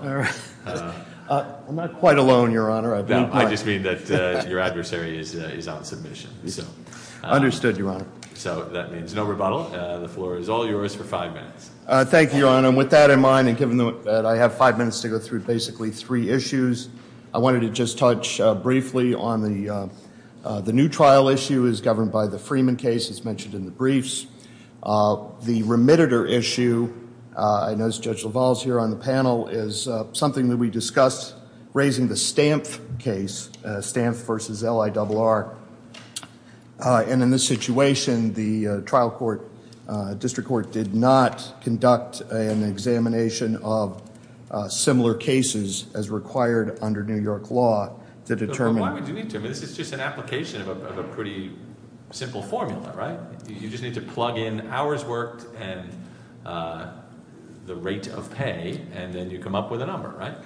I'm not quite alone, Your Honor. I just mean that your adversary is out of submission. Understood, Your Honor. So that means no rebuttal. The floor is all yours for five minutes. Thank you, Your Honor. And with that in mind, and given that I have five minutes to go through basically three issues, I wanted to just touch briefly on the new trial issue is governed by the Freeman case, as mentioned in the briefs. The remitter issue, I notice Judge LaValle is here on the panel, is something that we discussed raising the Stamp case, Stamp v. LIRR. And in this situation, the trial court, district court, did not conduct an examination of similar cases as required under New York law to determine Why would you need to? This is just an application of a pretty simple formula, right? You just need to plug in hours worked and the rate of pay, and then you come up with a number, right?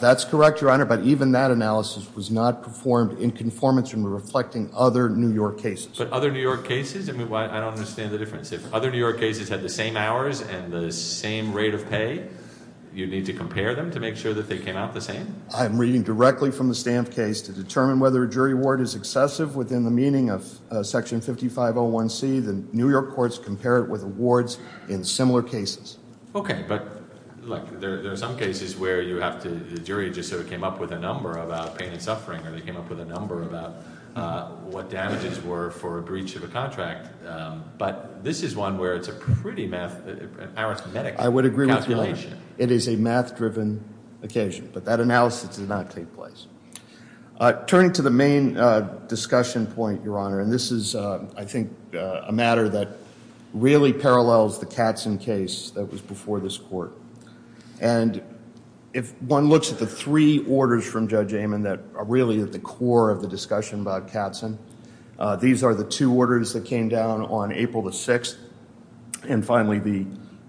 That's correct, Your Honor, but even that analysis was not performed in conformance with reflecting other New York cases. But other New York cases? I don't understand the difference. If other New York cases had the same hours and the same rate of pay, you'd need to compare them to make sure that they came out the same? I'm reading directly from the Stamp case to determine whether a jury award is excessive within the meaning of Section 5501C. The New York courts compare it with awards in similar cases. Okay, but look, there are some cases where you have to, the jury just sort of came up with a number about pain and suffering, or they came up with a number about what damages were for a breach of a contract. But this is one where it's a pretty arithmetic calculation. It is a math-driven occasion, but that analysis did not take place. Turning to the main discussion point, Your Honor, and this is, I think, a matter that really parallels the Katzen case that was before this court. And if one looks at the three orders from Judge Amon that are really at the core of the discussion about Katzen, these are the two orders that came down on April the 6th, and finally,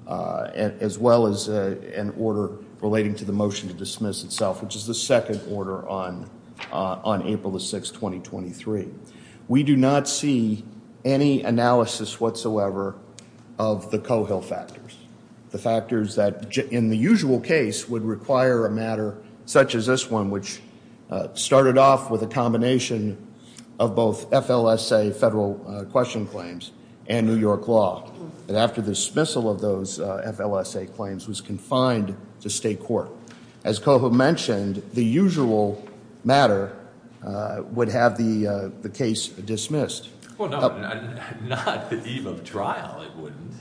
as well as an order relating to the motion to dismiss itself, which is the second order on April the 6th, 2023. We do not see any analysis whatsoever of the Cohill factors, the factors that, in the usual case, would require a matter such as this one, which started off with a combination of both FLSA federal question claims and New York law. And after the dismissal of those FLSA claims, was confined to state court. As Cohill mentioned, the usual matter would have the case dismissed. Well, no, not the eve of trial, it wouldn't.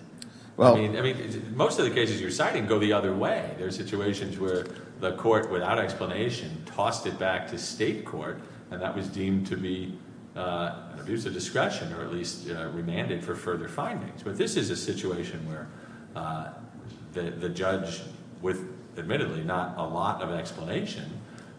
I mean, most of the cases you're citing go the other way. There are situations where the court, without explanation, tossed it back to state court, and that was deemed to be an abuse of discretion or at least remanded for further findings. But this is a situation where the judge, with admittedly not a lot of explanation,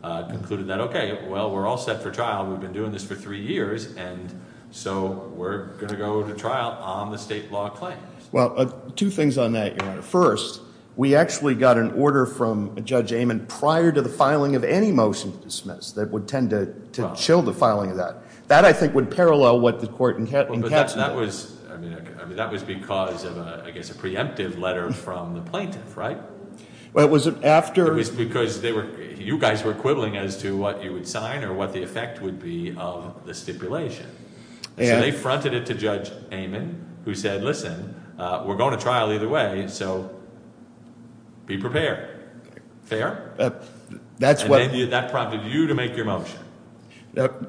concluded that, okay, well, we're all set for trial. We've been doing this for three years, and so we're going to go to trial on the state law claims. Well, two things on that. First, we actually got an order from Judge Amon prior to the filing of any motion to dismiss that would tend to chill the filing of that. That, I think, would parallel what the court encapsulated. But that was because of, I guess, a preemptive letter from the plaintiff, right? Well, it was after. It was because you guys were quibbling as to what you would sign or what the effect would be of the stipulation. So they fronted it to Judge Amon, who said, listen, we're going to trial either way, so be prepared. Fair? That's what. And that prompted you to make your motion.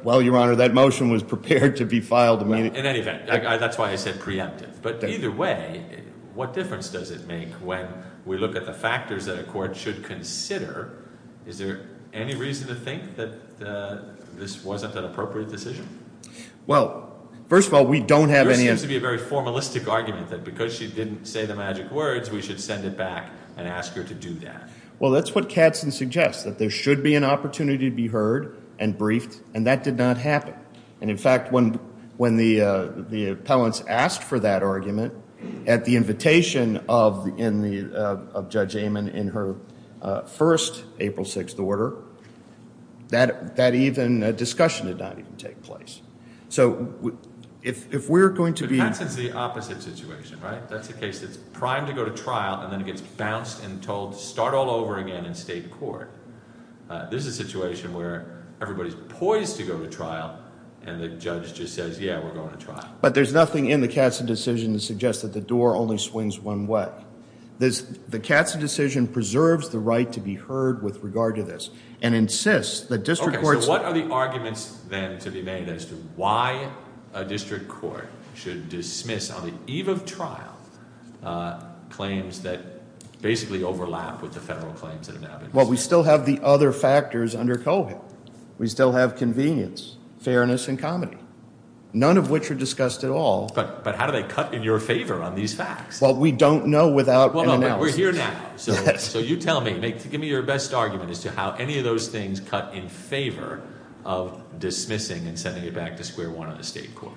Well, Your Honor, that motion was prepared to be filed. In any event, that's why I said preemptive. But either way, what difference does it make when we look at the factors that a court should consider? Is there any reason to think that this wasn't an appropriate decision? Well, first of all, we don't have any of it. There seems to be a very formalistic argument that because she didn't say the magic words, we should send it back and ask her to do that. Well, that's what Katzen suggests, that there should be an opportunity to be heard and briefed, and that did not happen. And, in fact, when the appellants asked for that argument at the invitation of Judge Amon in her first April 6th order, that discussion did not even take place. So if we're going to be – But Katzen's the opposite situation, right? That's a case that's primed to go to trial, and then it gets bounced and told to start all over again in state court. This is a situation where everybody's poised to go to trial, and the judge just says, yeah, we're going to trial. But there's nothing in the Katzen decision to suggest that the door only swings one way. The Katzen decision preserves the right to be heard with regard to this and insists that district courts – Okay, so what are the arguments, then, to be made as to why a district court should dismiss on the eve of trial claims that basically overlap with the federal claims that have happened? Well, we still have the other factors under COVID. We still have convenience, fairness, and comedy, none of which are discussed at all. But how do they cut in your favor on these facts? Well, we don't know without an analysis. We're here now. So you tell me. Give me your best argument as to how any of those things cut in favor of dismissing and sending it back to square one on the state court.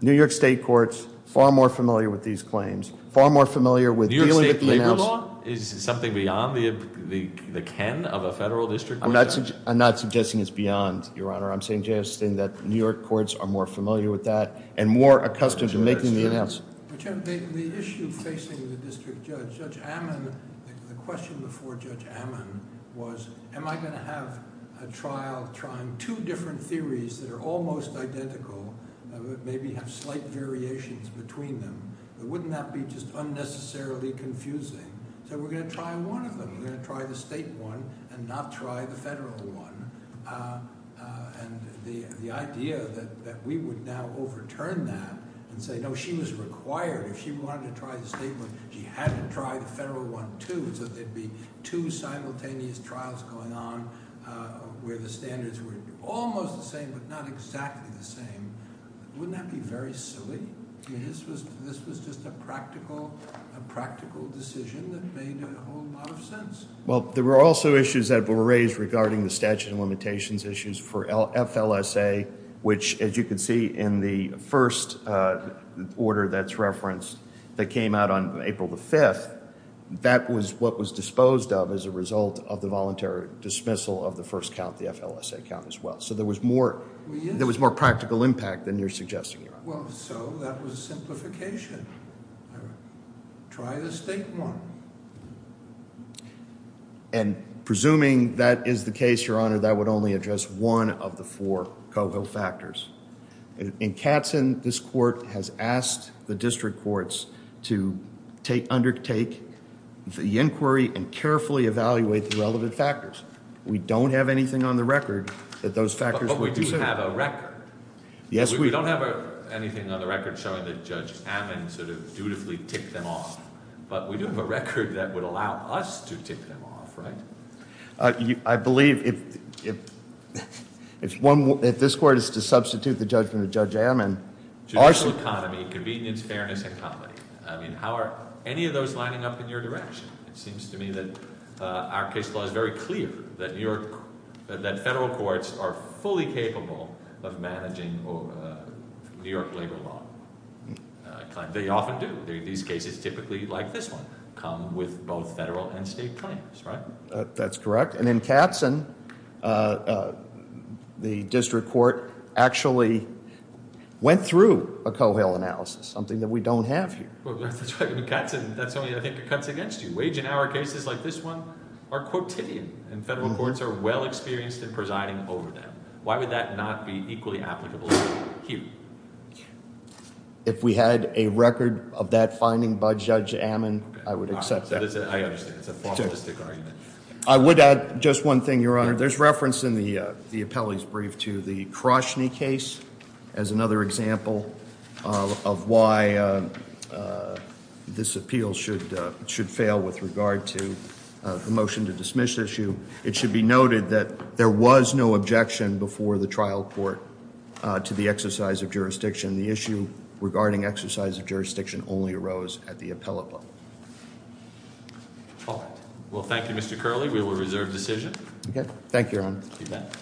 New York state courts are far more familiar with these claims, far more familiar with dealing with the – Is this something beyond the ken of a federal district court? I'm not suggesting it's beyond, Your Honor. I'm suggesting that New York courts are more familiar with that and more accustomed to making the announcements. The issue facing the district judge, Judge Ammon, the question before Judge Ammon was am I going to have a trial trying two different theories that are almost identical, maybe have slight variations between them? Wouldn't that be just unnecessarily confusing? So we're going to try one of them. We're going to try the state one and not try the federal one. And the idea that we would now overturn that and say, no, she was required. If she wanted to try the state one, she had to try the federal one too so there would be two simultaneous trials going on where the standards were almost the same but not exactly the same. Wouldn't that be very silly? This was just a practical decision that made a whole lot of sense. Well, there were also issues that were raised regarding the statute of limitations issues for FLSA, which as you can see in the first order that's referenced that came out on April the 5th, that was what was disposed of as a result of the voluntary dismissal of the first count, the FLSA count as well. So there was more practical impact than you're suggesting, Your Honor. Well, so that was simplification. Try the state one. And presuming that is the case, Your Honor, that would only address one of the four COHO factors. In Katzen, this court has asked the district courts to undertake the inquiry and carefully evaluate the relevant factors. We don't have anything on the record that those factors would concern. But we do have a record. Yes, we do. We don't have anything on the record showing that Judge Ammon sort of dutifully ticked them off. But we do have a record that would allow us to tick them off, right? I believe if this court is to substitute the judgment of Judge Ammon, our- Judicial economy, convenience, fairness, and comedy. I mean, how are any of those lining up in your direction? It seems to me that our case law is very clear that New York-that federal courts are fully capable of managing New York labor law. They often do. These cases typically, like this one, come with both federal and state claims, right? That's correct. And in Katzen, the district court actually went through a COHO analysis, something that we don't have here. Well, that's right. In Katzen, that's only, I think, a cut against you. Wage and hour cases like this one are quotidian. And federal courts are well experienced in presiding over them. Why would that not be equally applicable here? If we had a record of that finding by Judge Ammon, I would accept that. I understand. It's a formalistic argument. I would add just one thing, Your Honor. There's reference in the appellee's brief to the Kroshny case as another example of why this appeal should fail with regard to the motion to dismiss issue. It should be noted that there was no objection before the trial court to the exercise of jurisdiction. The issue regarding exercise of jurisdiction only arose at the appellate level. Well, thank you, Mr. Curley. We will reserve decision. Okay. Thank you, Your Honor.